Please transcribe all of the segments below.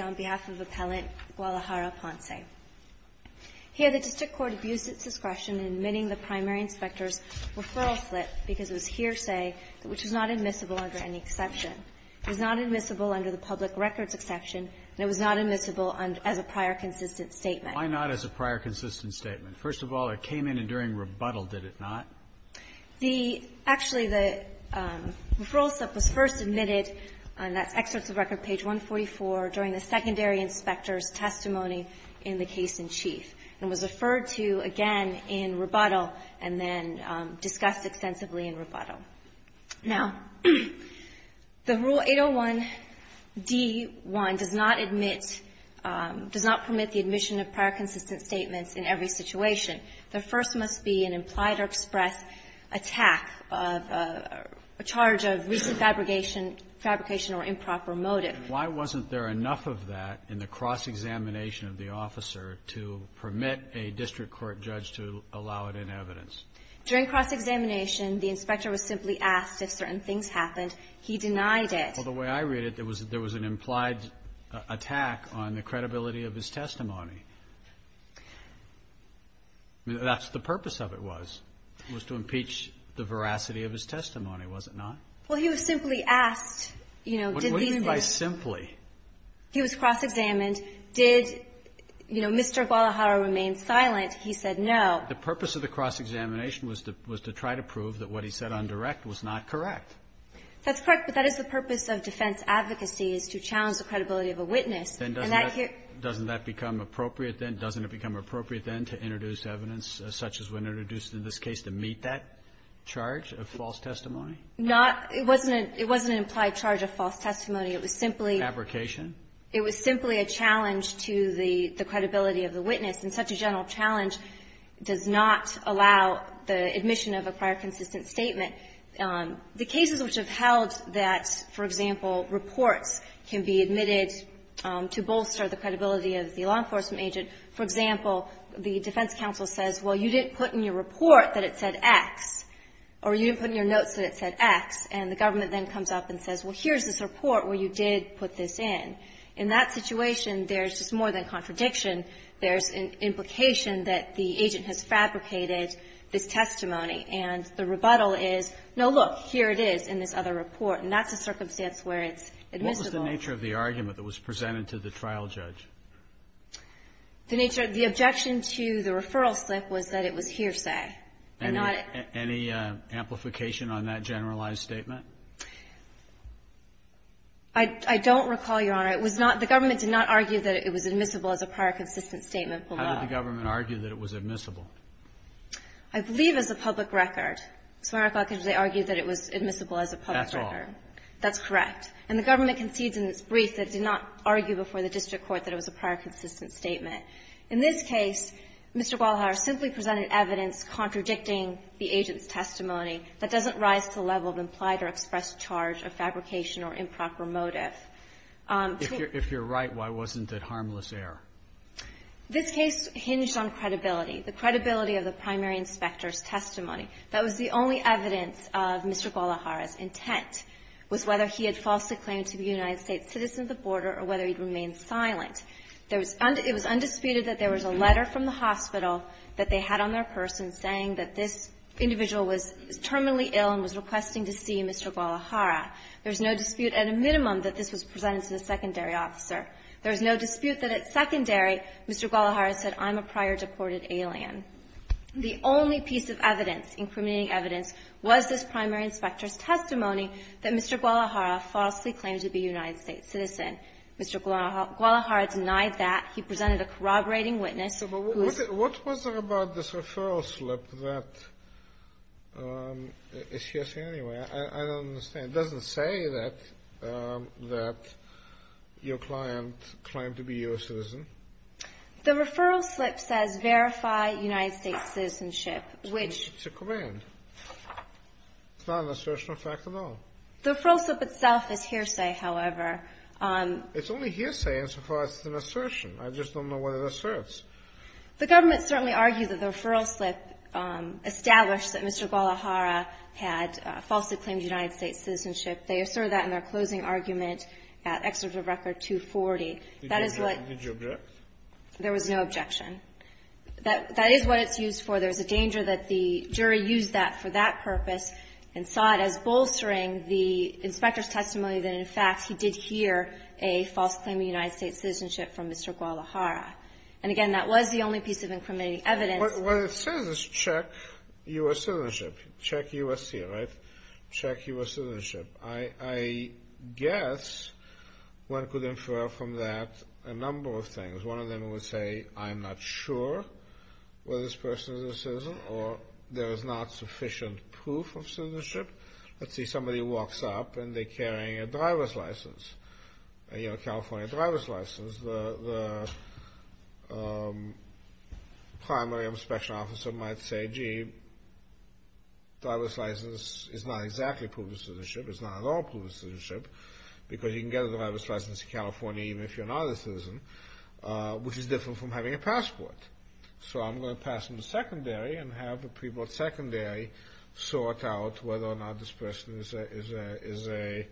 on behalf of Appellant Gualajara-Ponce. Here the district court abused its discretion in admitting the primary inspector's referral slip because it was hearsay, which was not admissible under any exception. It was not admissible under the public records exception, and it was not admissible as a prior consistent statement. Breyer, why not as a prior consistent statement? First of all, it came in and during rebuttal, did it not? The actually the referral slip was first admitted, and that's excerpts of record page 144, during the secondary inspector's testimony in the case in chief. It was referred to again in rebuttal and then discussed extensively in rebuttal. Now, the Rule 801d-1 does not admit, does not permit the admission of prior consistent statements in every situation. The first must be an implied or express attack of a charge of recent fabrication or improper motive. Why wasn't there enough of that in the cross-examination of the officer to permit a district court judge to allow it in evidence? During cross-examination, the inspector was simply asked if certain things happened. He denied it. Well, the way I read it, there was an implied attack on the credibility of his testimony. That's the purpose of it was, was to impeach the veracity of his testimony, was it not? Well, he was simply asked, you know, did these things What do you mean by simply? He was cross-examined. Did, you know, Mr. Guadalajara remain silent? He said no. The purpose of the cross-examination was to try to prove that what he said on direct was not correct. That's correct, but that is the purpose of defense advocacy, is to challenge the credibility of a witness. Then doesn't that become appropriate then, doesn't it become appropriate then to introduce evidence such as when introduced in this case to meet that charge of false testimony? Not It wasn't an implied charge of false testimony. It was simply Fabrication. It was simply a challenge to the credibility of the witness. And such a general challenge does not allow the admission of a prior consistent statement. The cases which have held that, for example, reports can be admitted to bolster the credibility of the law enforcement agent, for example, the defense counsel says, well, you didn't put in your report that it said X, or you didn't put in your notes that it said X, and the government then comes up and says, well, here's this report where you did put this in. In that situation, there's just more than contradiction. There's an implication that the agent has fabricated this testimony, and the rebuttal is, no, look, here it is in this other report, and that's a circumstance where it's admissible. What was the nature of the argument that was presented to the trial judge? The nature of the objection to the referral slip was that it was hearsay. Any amplification on that generalized statement? I don't recall, Your Honor. It was not the government did not argue that it was admissible as a prior consistent statement. Kennedy, how did the government argue that it was admissible? I believe as a public record. So, Your Honor, I can just argue that it was admissible as a public record. That's all. That's correct. And the government concedes in its brief that it did not argue before the district court that it was a prior consistent statement. In this case, Mr. Guadalajara simply presented evidence contradicting the agent's express charge of fabrication or improper motive. If you're right, why wasn't it harmless error? This case hinged on credibility, the credibility of the primary inspector's testimony. That was the only evidence of Mr. Guadalajara's intent was whether he had falsely claimed to be a United States citizen of the border or whether he'd remain silent. There was undisputed that there was a letter from the hospital that they had on their this individual was terminally ill and was requesting to see Mr. Guadalajara. There's no dispute at a minimum that this was presented to the secondary officer. There's no dispute that at secondary, Mr. Guadalajara said, I'm a prior deported alien. The only piece of evidence, incriminating evidence, was this primary inspector's testimony that Mr. Guadalajara falsely claimed to be a United States citizen. Mr. Guadalajara denied that. He presented a corroborating witness who was the primary inspector. The referral slip that is hearsay anyway, I don't understand. It doesn't say that your client claimed to be a U.S. citizen. The referral slip says verify United States citizenship, which. It's a command. It's not an assertion of fact at all. The referral slip itself is hearsay, however. It's only hearsay insofar as it's an assertion. I just don't know what it asserts. The government certainly argued that the referral slip established that Mr. Guadalajara had falsely claimed United States citizenship. They asserted that in their closing argument at Excerpt of Record 240. That is what the jury used that for that purpose and saw it as bolstering the inspector's testimony that, in fact, he did hear a false claim of United States citizenship from Mr. Guadalajara. And again, that was the only piece of incriminating evidence. What it says is check U.S. citizenship. Check U.S. here, right? Check U.S. citizenship. I guess one could infer from that a number of things. One of them would say, I'm not sure whether this person is a citizen or there is not sufficient proof of citizenship. Let's say somebody walks up and they're carrying a driver's license, a California driver's license. The primary inspection officer might say, gee, driver's license is not exactly proof of citizenship. It's not at all proof of citizenship because you can get a driver's license in California even if you're not a citizen, which is different from having a passport. So I'm going to pass him the secondary and have the people at secondary sort out whether or not this person is a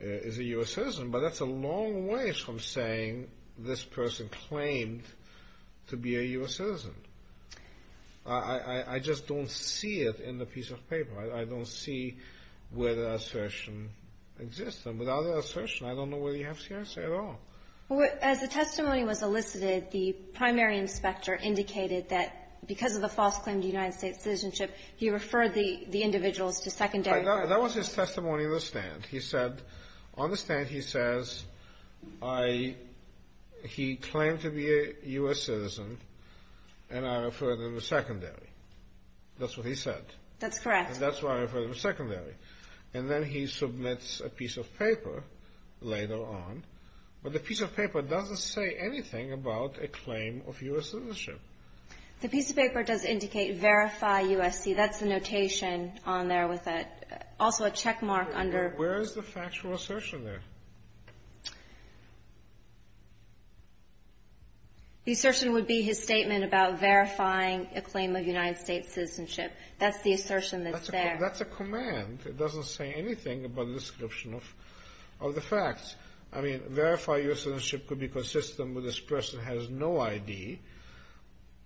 U.S. citizen. But that's a long ways from saying this person claimed to be a U.S. citizen. I just don't see it in the piece of paper. I don't see where the assertion exists. And without an assertion, I don't know whether you have CRC at all. As the testimony was elicited, the primary inspector indicated that because of the false claim to United States citizenship, he referred the individuals to secondary. That was his testimony in the stand. He said, on the stand he says, he claimed to be a U.S. citizen, and I referred him to secondary. That's what he said. That's correct. That's why I referred him to secondary. And then he submits a piece of paper later on. But the piece of paper doesn't say anything about a claim of U.S. citizenship. The piece of paper does indicate verify USC. That's the notation on there with also a checkmark under. Where is the factual assertion there? The assertion would be his statement about verifying a claim of United States citizenship. That's the assertion that's there. That's a command. It doesn't say anything about the description of the facts. I mean, verify U.S. citizenship could be consistent with this person has no ID.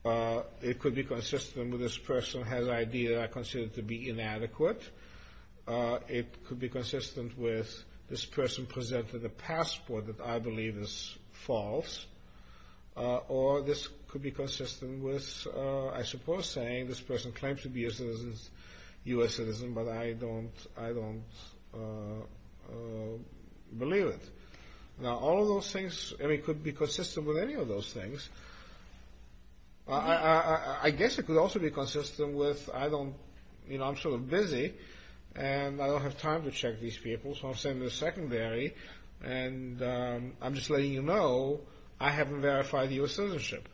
It could be consistent with this person has ID that I consider to be inadequate. It could be consistent with this person presented a passport that I believe is false. Or this could be consistent with, I suppose, saying this person claims to be a U.S. citizen, but I don't believe it. Now, all of those things, I mean, could be consistent with any of those things. I guess it could also be consistent with I don't, you know, I'm sort of busy. And I don't have time to check these people, so I'll send a secondary. And I'm just letting you know I haven't verified U.S. citizenship.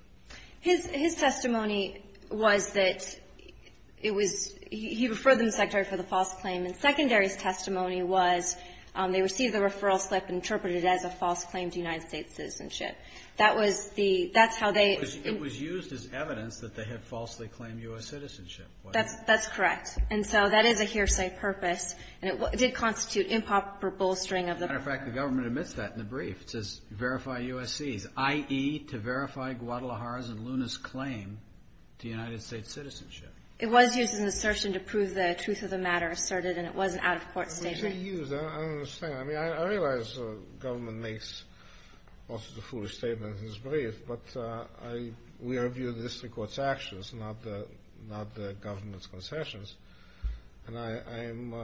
His testimony was that it was, he referred them, Secretary, for the false claim. And secondary's testimony was they received the referral slip and interpreted it as a false claim to United States citizenship. That was the, that's how they. It was used as evidence that they had falsely claimed U.S. citizenship. That's correct. And so that is a hearsay purpose. And it did constitute improper bolstering of the. As a matter of fact, the government admits that in the brief. It says verify U.S.C.s, i.e. to verify Guadalajara's and Luna's claim to United States citizenship. It was used as an assertion to prove the truth of the matter asserted. And it was an out of court statement. It was actually used, I don't understand. I mean, I realize the government makes also the foolish statement in this brief. But I, we are viewing this in court's actions, not the, not the government's concessions. And I, I'm,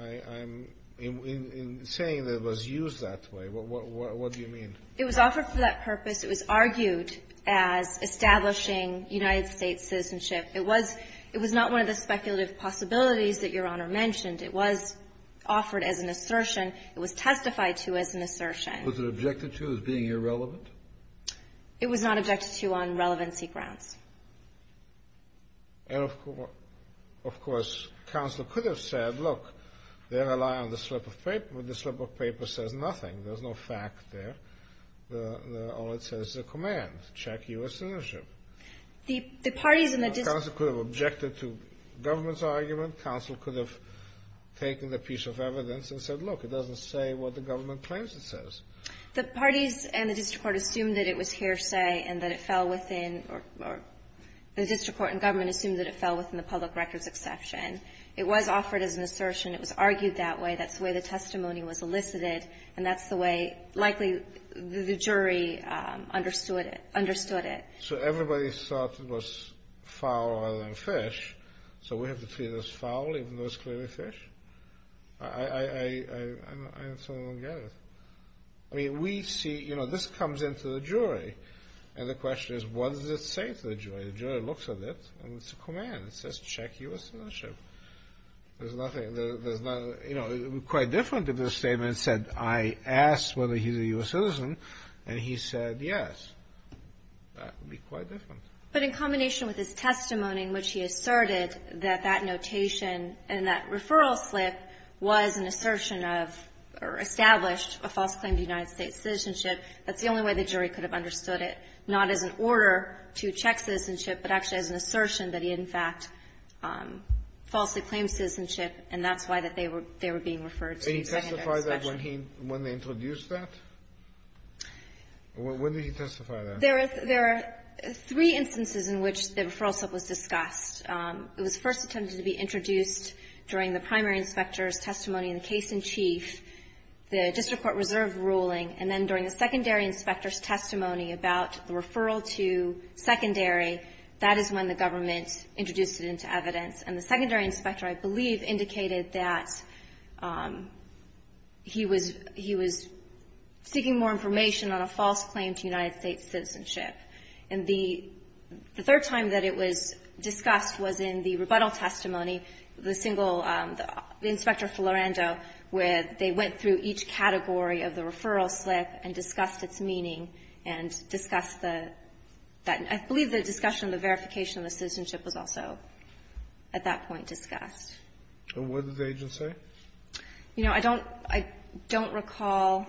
I, I'm, in, in, in saying that it was used that way. What, what, what, what do you mean? It was offered for that purpose. It was argued as establishing United States citizenship. It was, it was not one of the speculative possibilities that Your Honor mentioned. It was offered as an assertion. It was testified to as an assertion. Was it objected to as being irrelevant? It was not objected to on relevancy grounds. And of course, of course, counsel could have said, look, they rely on the slip of paper, but the slip of paper says nothing. There's no fact there. The, the, all it says is a command. Check U.S. citizenship. The, the parties in the district. Counsel could have objected to government's argument. Counsel could have taken the piece of evidence and said, look, it doesn't say what the government claims it says. The parties and the district court assumed that it was hearsay and that it fell within, or, or, the district court and government assumed that it fell within the public records exception. It was offered as an assertion. It was argued that way. That's the way the testimony was elicited. And that's the way likely the jury understood it, understood it. So everybody thought it was foul rather than fish. So we have to treat it as foul, even though it's clearly fish? I, I, I, I, I, I don't get it. I mean, we see, you know, this comes into the jury. And the question is, what does it say to the jury? The jury looks at it, and it's a command. It says, check U.S. citizenship. There's nothing, there, there's not, you know, quite different if the statement said, I asked whether he's a U.S. citizen, and he said yes. That would be quite different. But in combination with his testimony in which he asserted that that notation and that referral slip was an assertion of, or established, a false claim to United States citizenship, that's the only way the jury could have understood it. Not as an order to check citizenship, but actually as an assertion that he in fact falsely claimed citizenship, and that's why that they were, they were being referred to the secondary inspection. And he testified that when he, when they introduced that? When did he testify that? There are, there are three instances in which the referral slip was discussed. It was first attempted to be introduced during the primary inspector's testimony in the case in chief, the district court reserve ruling, and then during the secondary inspector's testimony about the referral to secondary. That is when the government introduced it into evidence. And the secondary inspector, I believe, indicated that he was, he was seeking more information on a false claim to United States citizenship. And the, the third time that it was discussed was in the rebuttal testimony. The single, the Inspector Florando, where they went through each category of the referral slip and discussed the, that, I believe the discussion of the verification of the citizenship was also at that point discussed. And what did the agent say? You know, I don't, I don't recall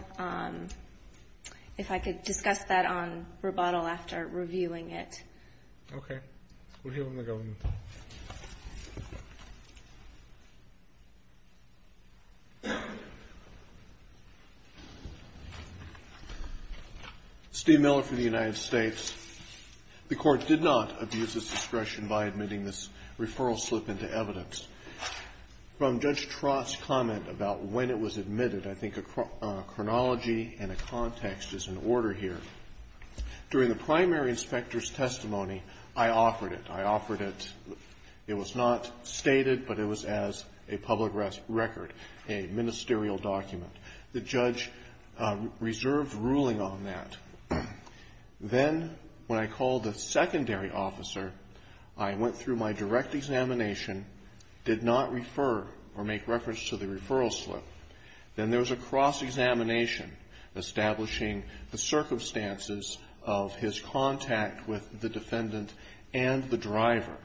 if I could discuss that on rebuttal after reviewing it. Okay. We'll hear from the government. Steve Miller for the United States. The court did not abuse its discretion by admitting this referral slip into evidence. From Judge Trott's comment about when it was admitted, I think a chronology and a context is in order here. During the primary inspector's testimony, I offered it. It was not stated, but it was as a public record, a ministerial document. The judge reserved ruling on that. Then, when I called the secondary officer, I went through my direct examination, did not refer or make reference to the referral slip. Then there was a cross-examination establishing the circumstances of his contact with the defendant and the driver.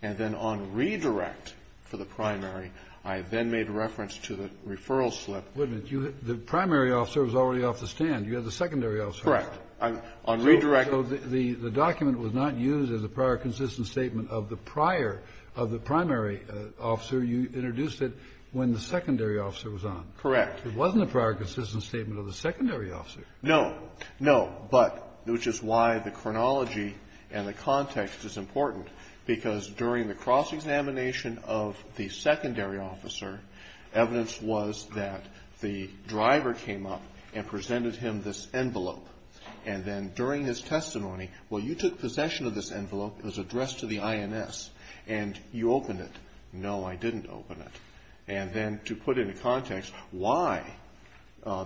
And then on redirect for the primary, I then made reference to the referral slip. Wait a minute. You had, the primary officer was already off the stand. You had the secondary officer. Correct. On redirect. So the document was not used as a prior consistent statement of the prior, of the primary officer. You introduced it when the secondary officer was on. Correct. It wasn't a prior consistent statement of the secondary officer. No. No. But, which is why the chronology and the context is important. Because during the cross-examination of the secondary officer, evidence was that the driver came up and presented him this envelope. And then during his testimony, well, you took possession of this envelope. It was addressed to the INS. And you opened it. No, I didn't open it. And then to put into context why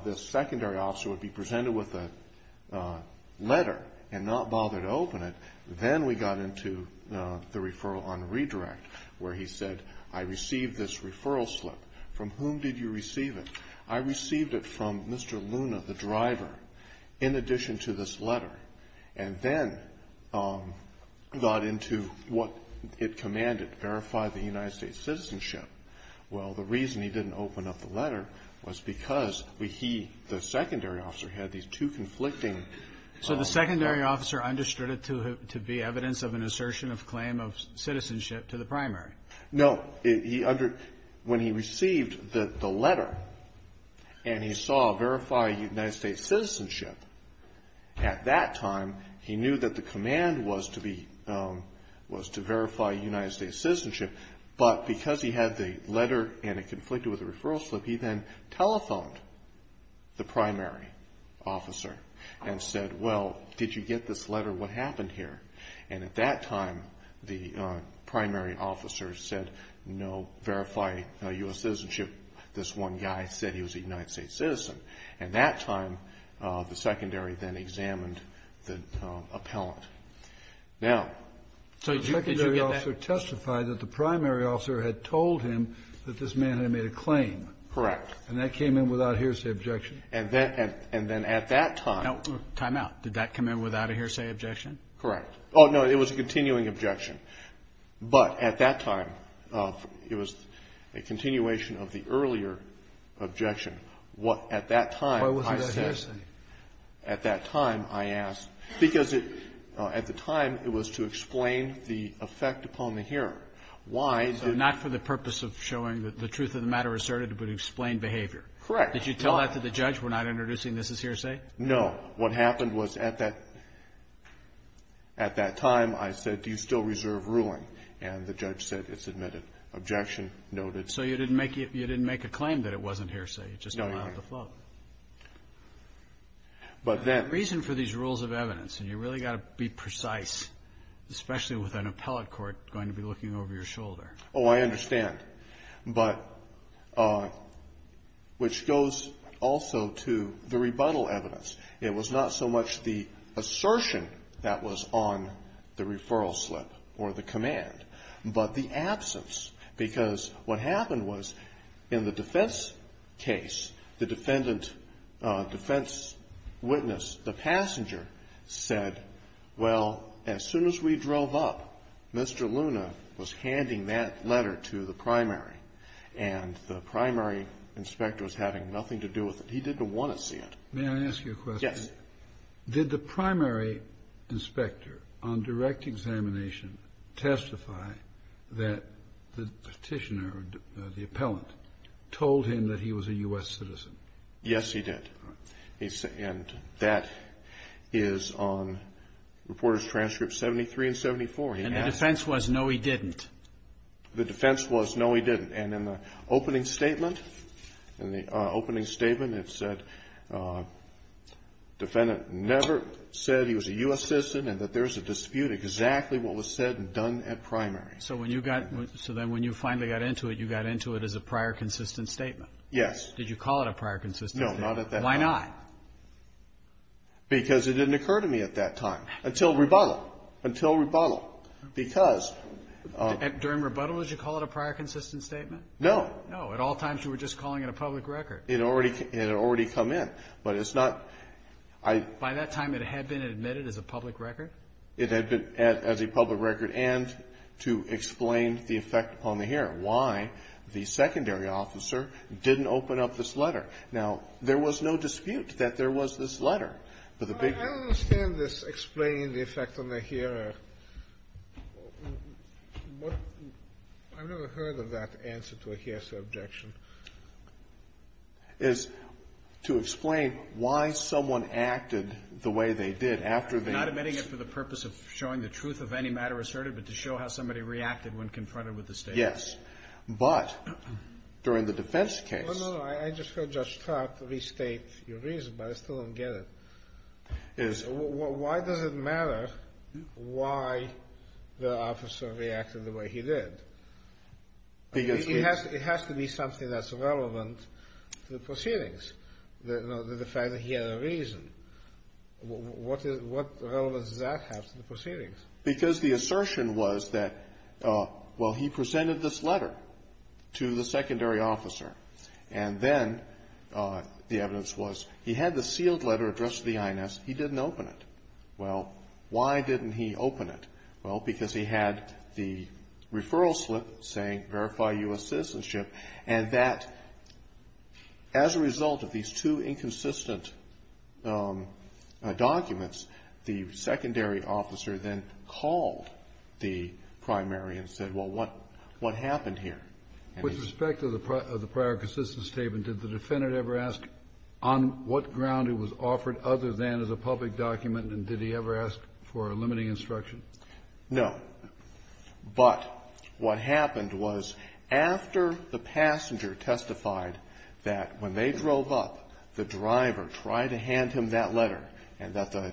this secondary officer would be presented with a letter and not bother to open it, then we got into the referral on redirect, where he said, I received this referral slip. From whom did you receive it? I received it from Mr. Luna, the driver, in addition to this letter. And then got into what it commanded, verify the United States citizenship. Well, the reason he didn't open up the letter was because he, the secondary officer, had these two conflicting. So the secondary officer understood it to be evidence of an assertion of claim of citizenship to the primary. No. He, when he received the letter and he saw verify United States citizenship, at that time, he knew that the command was to verify United States citizenship. But because he had the letter and it conflicted with the referral slip, he then telephoned the primary officer and said, well, did you get this letter? What happened here? And at that time, the primary officer said, no, verify US citizenship. This one guy said he was a United States citizen. At that time, the secondary then examined the appellant. Now, the secondary officer testified that the primary officer had told him that this man had made a claim. Correct. And that came in without a hearsay objection. And then at that time. Time out. Did that come in without a hearsay objection? Correct. Oh, no, it was a continuing objection. But at that time, it was a continuation of the earlier objection. What at that time, I said, at that time, I asked. Because at the time, it was to explain the effect upon the hearing. Why? Not for the purpose of showing the truth of the matter asserted, but explain behavior. Correct. Did you tell that to the judge? We're not introducing this as hearsay? No. What happened was at that time, I said, do you still reserve ruling? And the judge said, it's admitted. Objection noted. So you didn't make a claim that it wasn't hearsay. It just came out of the float. But then. The reason for these rules of evidence, and you really got to be precise, especially with an appellate court going to be looking over your shoulder. Oh, I understand. But which goes also to the rebuttal evidence. It was not so much the assertion that was on the referral slip or the case. The defendant, defense witness, the passenger said, well, as soon as we drove up, Mr. Luna was handing that letter to the primary. And the primary inspector was having nothing to do with it. He didn't want to see it. May I ask you a question? Yes. Did the primary inspector on direct examination testify that the petitioner, the appellant, told him that he was a U.S. citizen? Yes, he did. And that is on reporter's transcript 73 and 74. And the defense was, no, he didn't. The defense was, no, he didn't. And in the opening statement, it said, defendant never said he was a U.S. citizen and that there's a dispute exactly what was said and done at primary. So when you got, so then when you finally got into it, you got into it as a prior consistent statement? Yes. Did you call it a prior consistent statement? No, not at that time. Why not? Because it didn't occur to me at that time until rebuttal. Until rebuttal. Because. During rebuttal, did you call it a prior consistent statement? No. No. At all times, you were just calling it a public record. It had already come in. But it's not, I. By that time, it had been admitted as a public record? It had been as a public record and to explain the effect on the hearer, why the secondary officer didn't open up this letter. Now, there was no dispute that there was this letter. But the big. I don't understand this explaining the effect on the hearer. I've never heard of that answer to a hearsay objection. Is to explain why someone acted the way they did after they. Not admitting it for the purpose of showing the truth of any matter asserted, but to show how somebody reacted when confronted with the statement. Yes, but during the defense case. No, no, no. I just heard Judge Trout restate your reason, but I still don't get it. Is. Why does it matter why the officer reacted the way he did? Because. It has to be something that's relevant to the proceedings. The fact that he had a reason. What is what does that have to the proceedings? Because the assertion was that, well, he presented this letter to the secondary officer. And then the evidence was he had the sealed letter addressed to the INS. He didn't open it. Well, why didn't he open it? Well, because he had the referral slip saying verify U.S. citizenship. And that as a result of these two inconsistent documents, the secondary officer then called the primary and said, well, what what happened here with respect to the of the prior consistent statement? Did the defendant ever ask on what ground it was offered other than as a public document? And did he ever ask for a limiting instruction? No, but what happened was after the passenger testified that when they drove up, the driver tried to hand him that letter and that the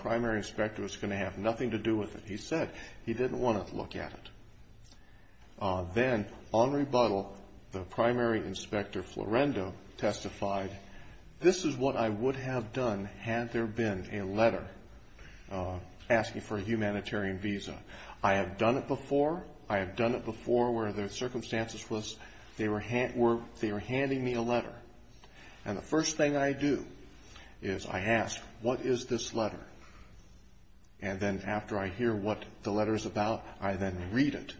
primary inspector was going to have nothing to do with it. He said he didn't want to look at it. Then on rebuttal, the primary inspector, Florendo, testified, this is what I would have done had there been a letter asking for a humanitarian visa. I have done it before. I have done it before where the circumstances was they were they were handing me a letter. And the first thing I do is I ask, what is this letter? And then after I hear what the letter is about, I then read it.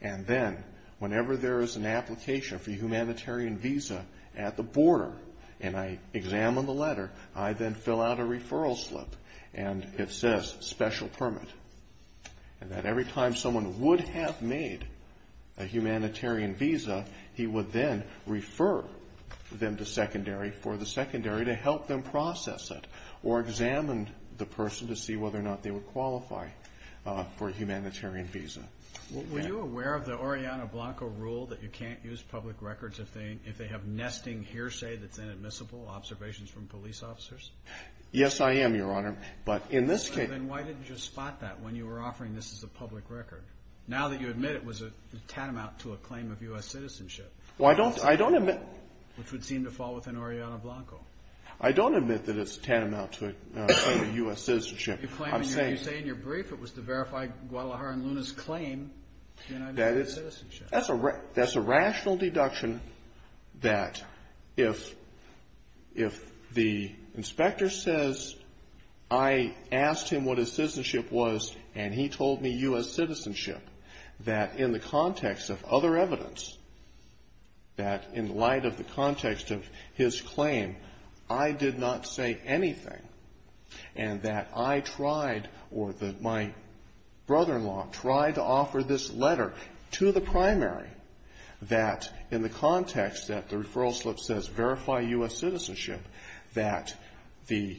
And then whenever there is an application for a humanitarian visa at the border and I examine the letter, I then fill out a referral slip and it says special permit. And that every time someone would have made a humanitarian visa, he would then refer them to secondary for the secondary to help them process it or examined the person to see whether or not they would qualify for a humanitarian visa. Were you aware of the Oriana Blanco rule that you can't use public records if they if they have nesting hearsay that's inadmissible observations from police officers? Yes, I am, Your Honor. But in this case. Then why didn't you spot that when you were offering this as a public record? Now that you admit it was a tantamount to a claim of U.S. citizenship. Well, I don't I don't admit. Which would seem to fall within Oriana Blanco. I don't admit that it's tantamount to a U.S. citizenship. You claim, you say in your brief it was to verify Guadalajara and Luna's claim to United States citizenship. That's a that's a rational deduction that if if the inspector says I asked him what his citizenship was and he told me U.S. citizenship, that in the context of other evidence, that in light of the context of his claim, I did not say anything. And that I tried or that my brother-in-law tried to offer this letter to the primary that in the context that the referral slip says verify U.S. citizenship, that the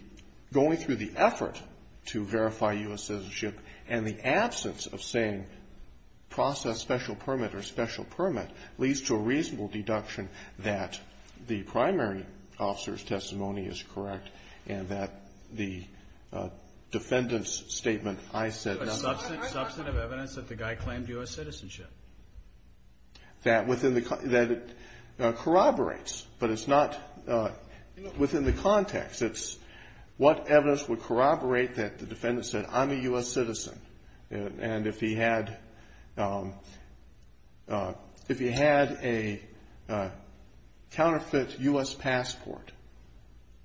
going through the effort to verify U.S. citizenship and the absence of saying process special permit or special permit leads to a reasonable deduction that the primary officer's testimony is correct. And that the defendant's statement, I said, a substantive evidence that the guy claimed U.S. citizenship. That within the that corroborates, but it's not within the context, it's what evidence would corroborate that the defendant said, I'm a U.S. citizen. And if he had if he had a counterfeit U.S. passport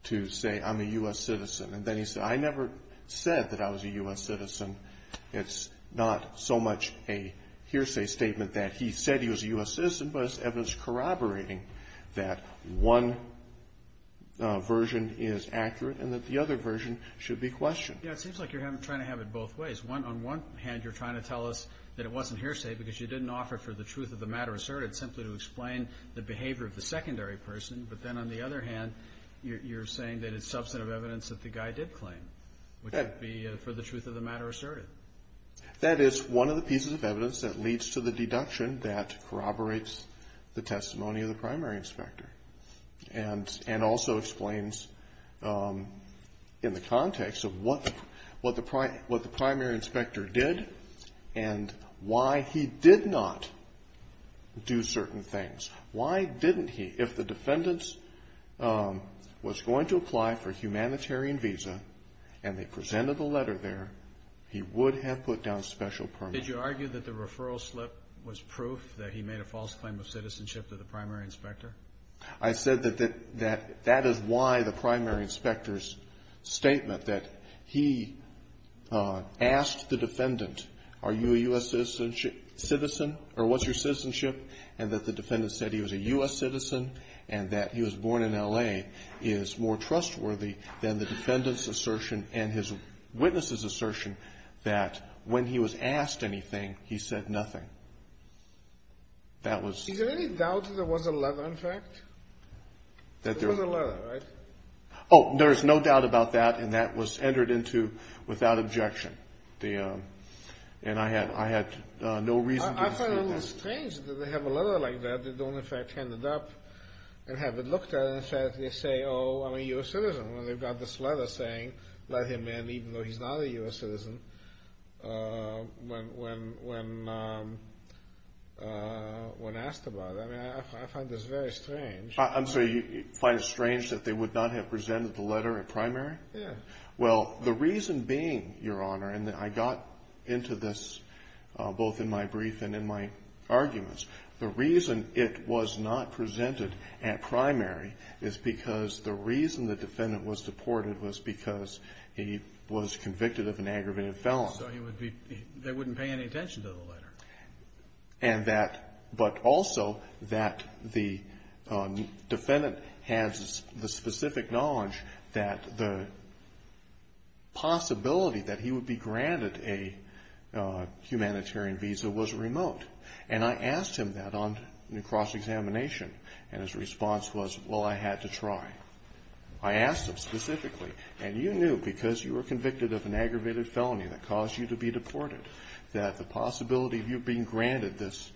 to say I'm a U.S. citizen and then he said I never said that I was a U.S. citizen, it's not so much a hearsay statement that he said he was a U.S. citizen, but it's evidence corroborating that one version is accurate and that the other version should be questioned. Yeah, it seems like you're having trying to have it both ways. One on one hand, you're trying to tell us that it wasn't hearsay because you didn't offer for the truth of the matter asserted simply to explain the behavior of the secondary person. But then on the other hand, you're saying that it's substantive evidence that the guy did claim would be for the truth of the matter asserted. That is one of the pieces of evidence that leads to the deduction that corroborates the testimony of the primary inspector and and also explains in the context of what the what the what the primary inspector did and why he did not do certain things. Why didn't he? If the defendants was going to apply for humanitarian visa and they presented the letter there, he would have put down special permit. Did you argue that the referral slip was proof that he made a false claim of citizenship to the primary inspector? I said that that that that is why the primary inspector's statement that he asked the defendant, are you a U.S. citizenship citizen or what's your citizenship and that the defendant said he was a U.S. citizen and that he was born in L.A. is more trustworthy than the defendant's assertion and his witnesses assertion that when he was asked anything, he said nothing. Is there any doubt that there was a letter in fact? There was a letter, right? Oh, there's no doubt about that and that was entered into without objection. I find it strange that they have a letter like that. They don't in fact hand it up and have it looked at and say, oh, I'm a U.S. citizen when they've got this letter saying let him in even though he's not a U.S. citizen when asked about it. I find this very strange. I'm sorry, you find it strange that they would not have presented the letter in primary? Yeah. Well, the reason being, Your Honor, and I got into this both in my brief and in my arguments, the reason it was not presented at primary is because the reason the defendant was deported was because he was convicted of an aggravated felon. So they wouldn't pay any attention to the letter? But also that the defendant has the specific knowledge that the possibility that he would be granted a humanitarian visa was remote. And I asked him that on cross-examination and his response was, well, I had to try. I asked him specifically, and you knew because you were convicted of an aggravated felony that caused you to be deported that the possibility of you being granted this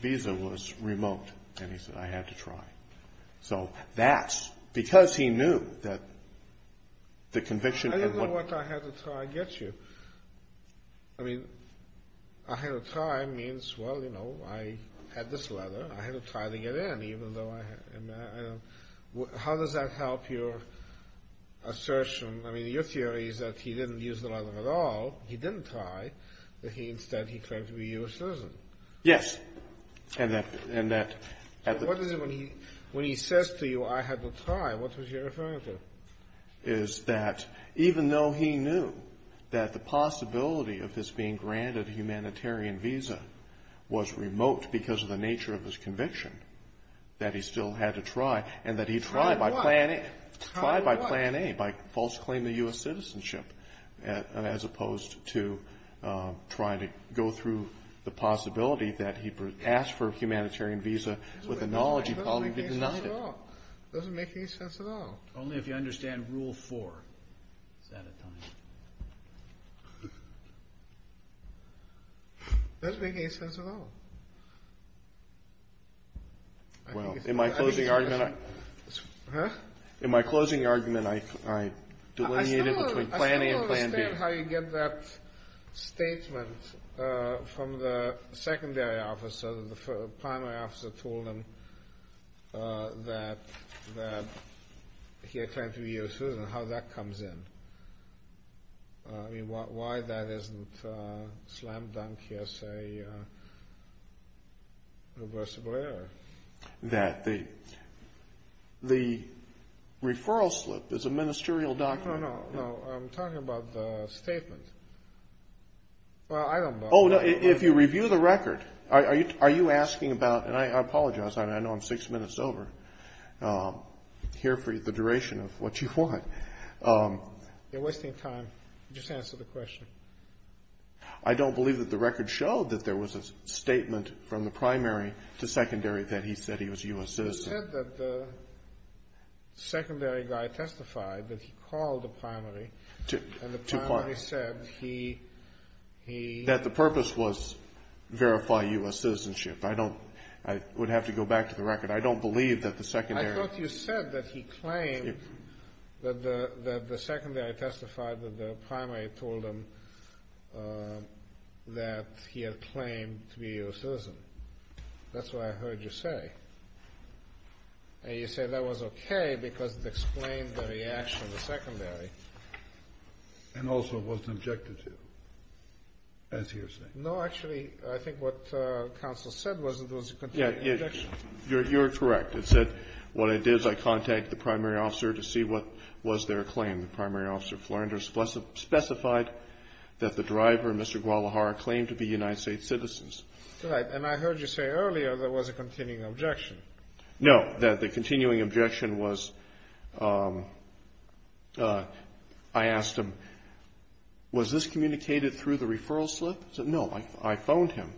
visa was remote. And he said, I had to try. So that's because he knew that the conviction... I didn't know what I had to try to get you. I mean, I had to try means, well, you know, I had this letter. I had to try to get in even though I... How does that help your assertion? I mean, your theory is that he didn't use the letter at all. He didn't try. Instead, he claimed to be a U.S. citizen. Yes, and that... What is it when he says to you, I had to try, what was he referring to? Is that even though he knew that the possibility of this being granted a humanitarian visa was remote because of the nature of his conviction, that he still had to try, and that he tried by plan A, by false claim to U.S. citizenship, as opposed to trying to go through the possibility that he asked for a humanitarian visa with a knowledge he probably did not have. It doesn't make any sense at all. Only if you understand rule four. It doesn't make any sense at all. Well, in my closing argument, I... Huh? In my closing argument, I delineated between plan A and plan B. Explain how you get that statement from the secondary officer, the primary officer told him that he had claimed to be a U.S. citizen, how that comes in. I mean, why that isn't slam-dunk here, say, reversible error. That the referral slip is a ministerial document. No, no, no. I'm talking about the statement. Well, I don't know. Oh, no, if you review the record, are you asking about, and I apologize, I know I'm six minutes over, here for the duration of what you want. You're wasting time. Just answer the question. I don't believe that the record showed that there was a statement from the primary to secondary that he said he was a U.S. citizen. You said that the secondary guy testified that he called the primary and the primary said he... That the purpose was verify U.S. citizenship. I don't, I would have to go back to the record. I don't believe that the secondary... I thought you said that he claimed that the secondary testified that the primary told him that he had claimed to be a U.S. citizen. That's what I heard you say. And you said that was okay because it explained the reaction of the secondary. And also it wasn't objected to, as he was saying. No, actually, I think what counsel said was that it was a continued objection. You're correct. It said, what I did is I contacted the primary officer to see what was their claim. The primary officer, Flernder, specified that the driver, Mr. Guadalajara, claimed to be United States citizens. Right. And I heard you say earlier there was a continuing objection. No, the continuing objection was I asked him, was this communicated through the referral slip? He said, no, I phoned him.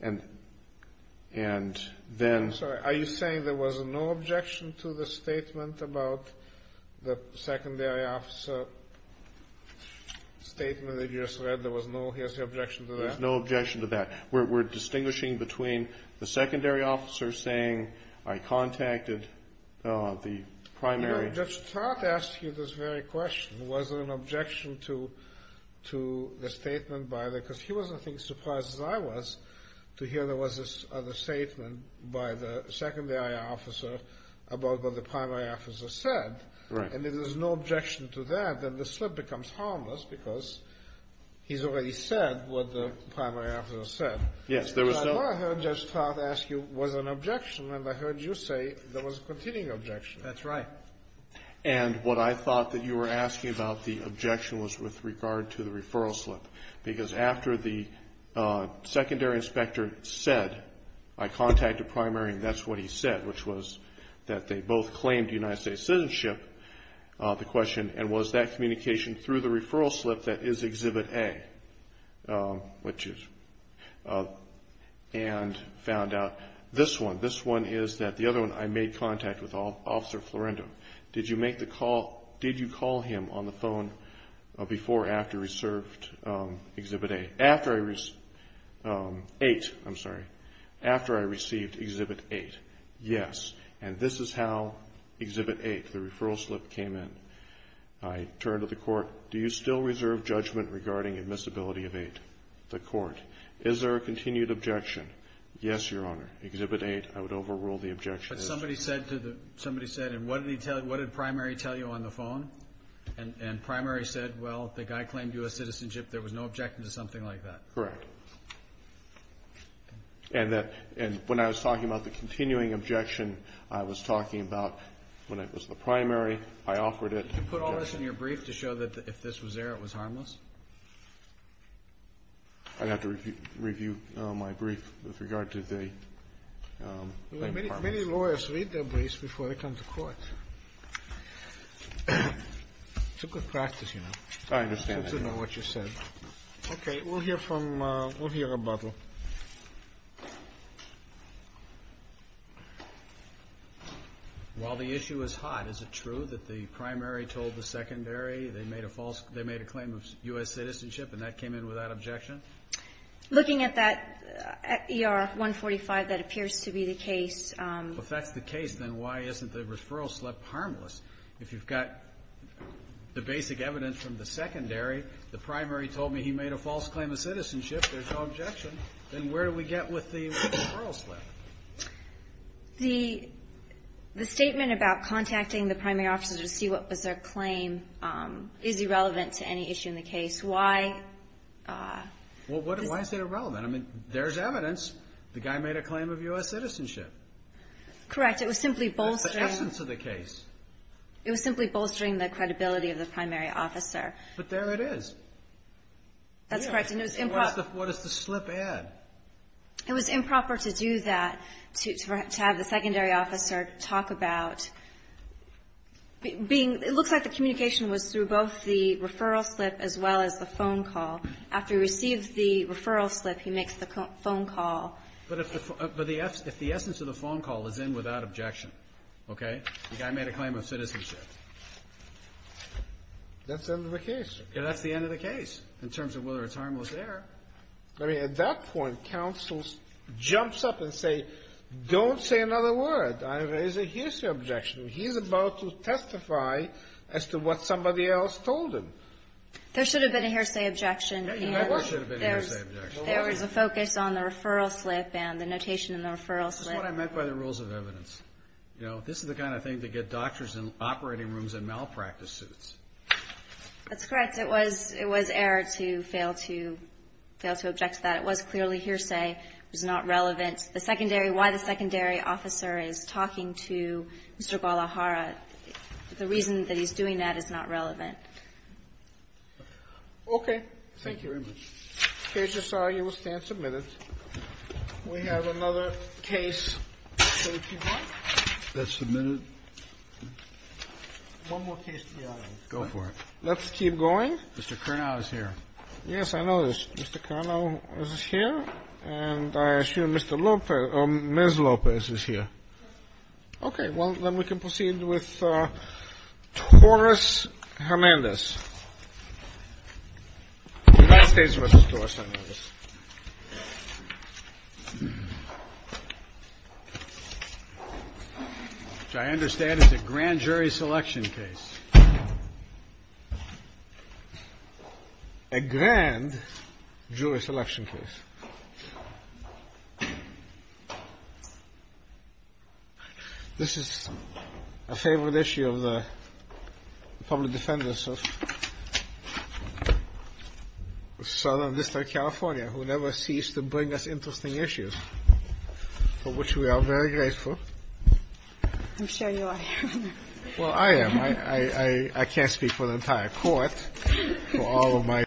And then... I'm sorry, are you saying there was no objection to the statement about the secondary officer statement that you just read? There was no, here's your objection to that? There was no objection to that. We're distinguishing between the secondary officer saying I contacted the primary... I just thought to ask you this very question. Was there an objection to the statement by the, because he wasn't as surprised as I was, to hear there was a statement by the secondary officer about what the primary officer said. Right. And if there's no objection to that, then the slip becomes harmless because he's already said what the primary officer said. Yes, there was no... I just thought to ask you, was there an objection? And I heard you say there was a continuing objection. That's right. And what I thought that you were asking about the objection was with regard to the referral slip, because after the secondary inspector said I contacted primary and that's what he said, which was that they both claimed United States citizenship, the question, and was that communication through the referral slip that is Exhibit A, and found out this one, this one is that the other one I made contact with Officer Florendo. Did you make the call, did you call him on the phone before or after he served Exhibit A? After I, eight, I'm sorry, after I received Exhibit 8. Yes. And this is how Exhibit 8, the referral slip, came in. I turned to the court, do you still reserve judgment regarding admissibility of 8? The court, is there a continued objection? Yes, Your Honor. Exhibit 8, I would overrule the objection. But somebody said, and what did primary tell you on the phone? And primary said, well, the guy claimed U.S. citizenship. There was no objection to something like that. Correct. And that, and when I was talking about the continuing objection, I was talking about when it was the primary, I offered it. Did you put all this in your brief to show that if this was there, it was harmless? I'd have to review my brief with regard to the part. Many lawyers read their briefs before they come to court. It's a good practice, you know. I understand that. To know what you said. Okay, we'll hear from, we'll hear about it. While the issue is hot, is it true that the primary told the secondary they made a false, they made a claim of U.S. citizenship and that came in without objection? Looking at that ER 145, that appears to be the case. If that's the case, then why isn't the referral slip harmless? If you've got the basic evidence from the secondary, the primary told me he made a false claim of citizenship, there's no objection, then where do we get with the referral slip? The statement about contacting the primary officer to see what was their claim is irrelevant to any issue in the case. Why? Well, why is it irrelevant? I mean, there's evidence. The guy made a claim of U.S. citizenship. Correct. It was simply bolstering. The essence of the case. It was simply bolstering the credibility of the primary officer. But there it is. That's correct. And it was improper. What does the slip add? It was improper to do that, to have the secondary officer talk about being, it looks like the communication was through both the referral slip as well as the phone call. After he receives the referral slip, he makes the phone call. But if the essence of the phone call is in without objection, okay, the guy made a claim of citizenship. That's the end of the case. That's the end of the case in terms of whether it's harmless there. I mean, at that point, counsel jumps up and say, don't say another word. I raise a hearsay objection. He's about to testify as to what somebody else told him. There should have been a hearsay objection. There never should have been a hearsay objection. There was a focus on the referral slip and the notation in the referral slip. That's what I meant by the rules of evidence. You know, this is the kind of thing to get doctors in operating rooms in malpractice suits. That's correct. It was error to fail to object to that. It was clearly hearsay. It was not relevant. The secondary, why the secondary officer is talking to Mr. Gualajara, the reason that he's doing that is not relevant. Okay. Thank you very much. The case is signed. You will stand submitted. We have another case. That's submitted. One more case to the audit. Go for it. Let's keep going. Mr. Curnow is here. Yes, I know. Mr. Curnow is here. And I assume Mr. Lopez or Ms. Lopez is here. Okay. Well, then we can proceed with Taurus Hernandez. The United States v. Taurus Hernandez, which I understand is a grand jury selection case. A grand jury selection case. This is a favorite issue of the public defendants of Southern District, California, who never cease to bring us interesting issues, for which we are very grateful. I'm sure you are. Well, I am. I can't speak for the entire court, for all of my colleagues.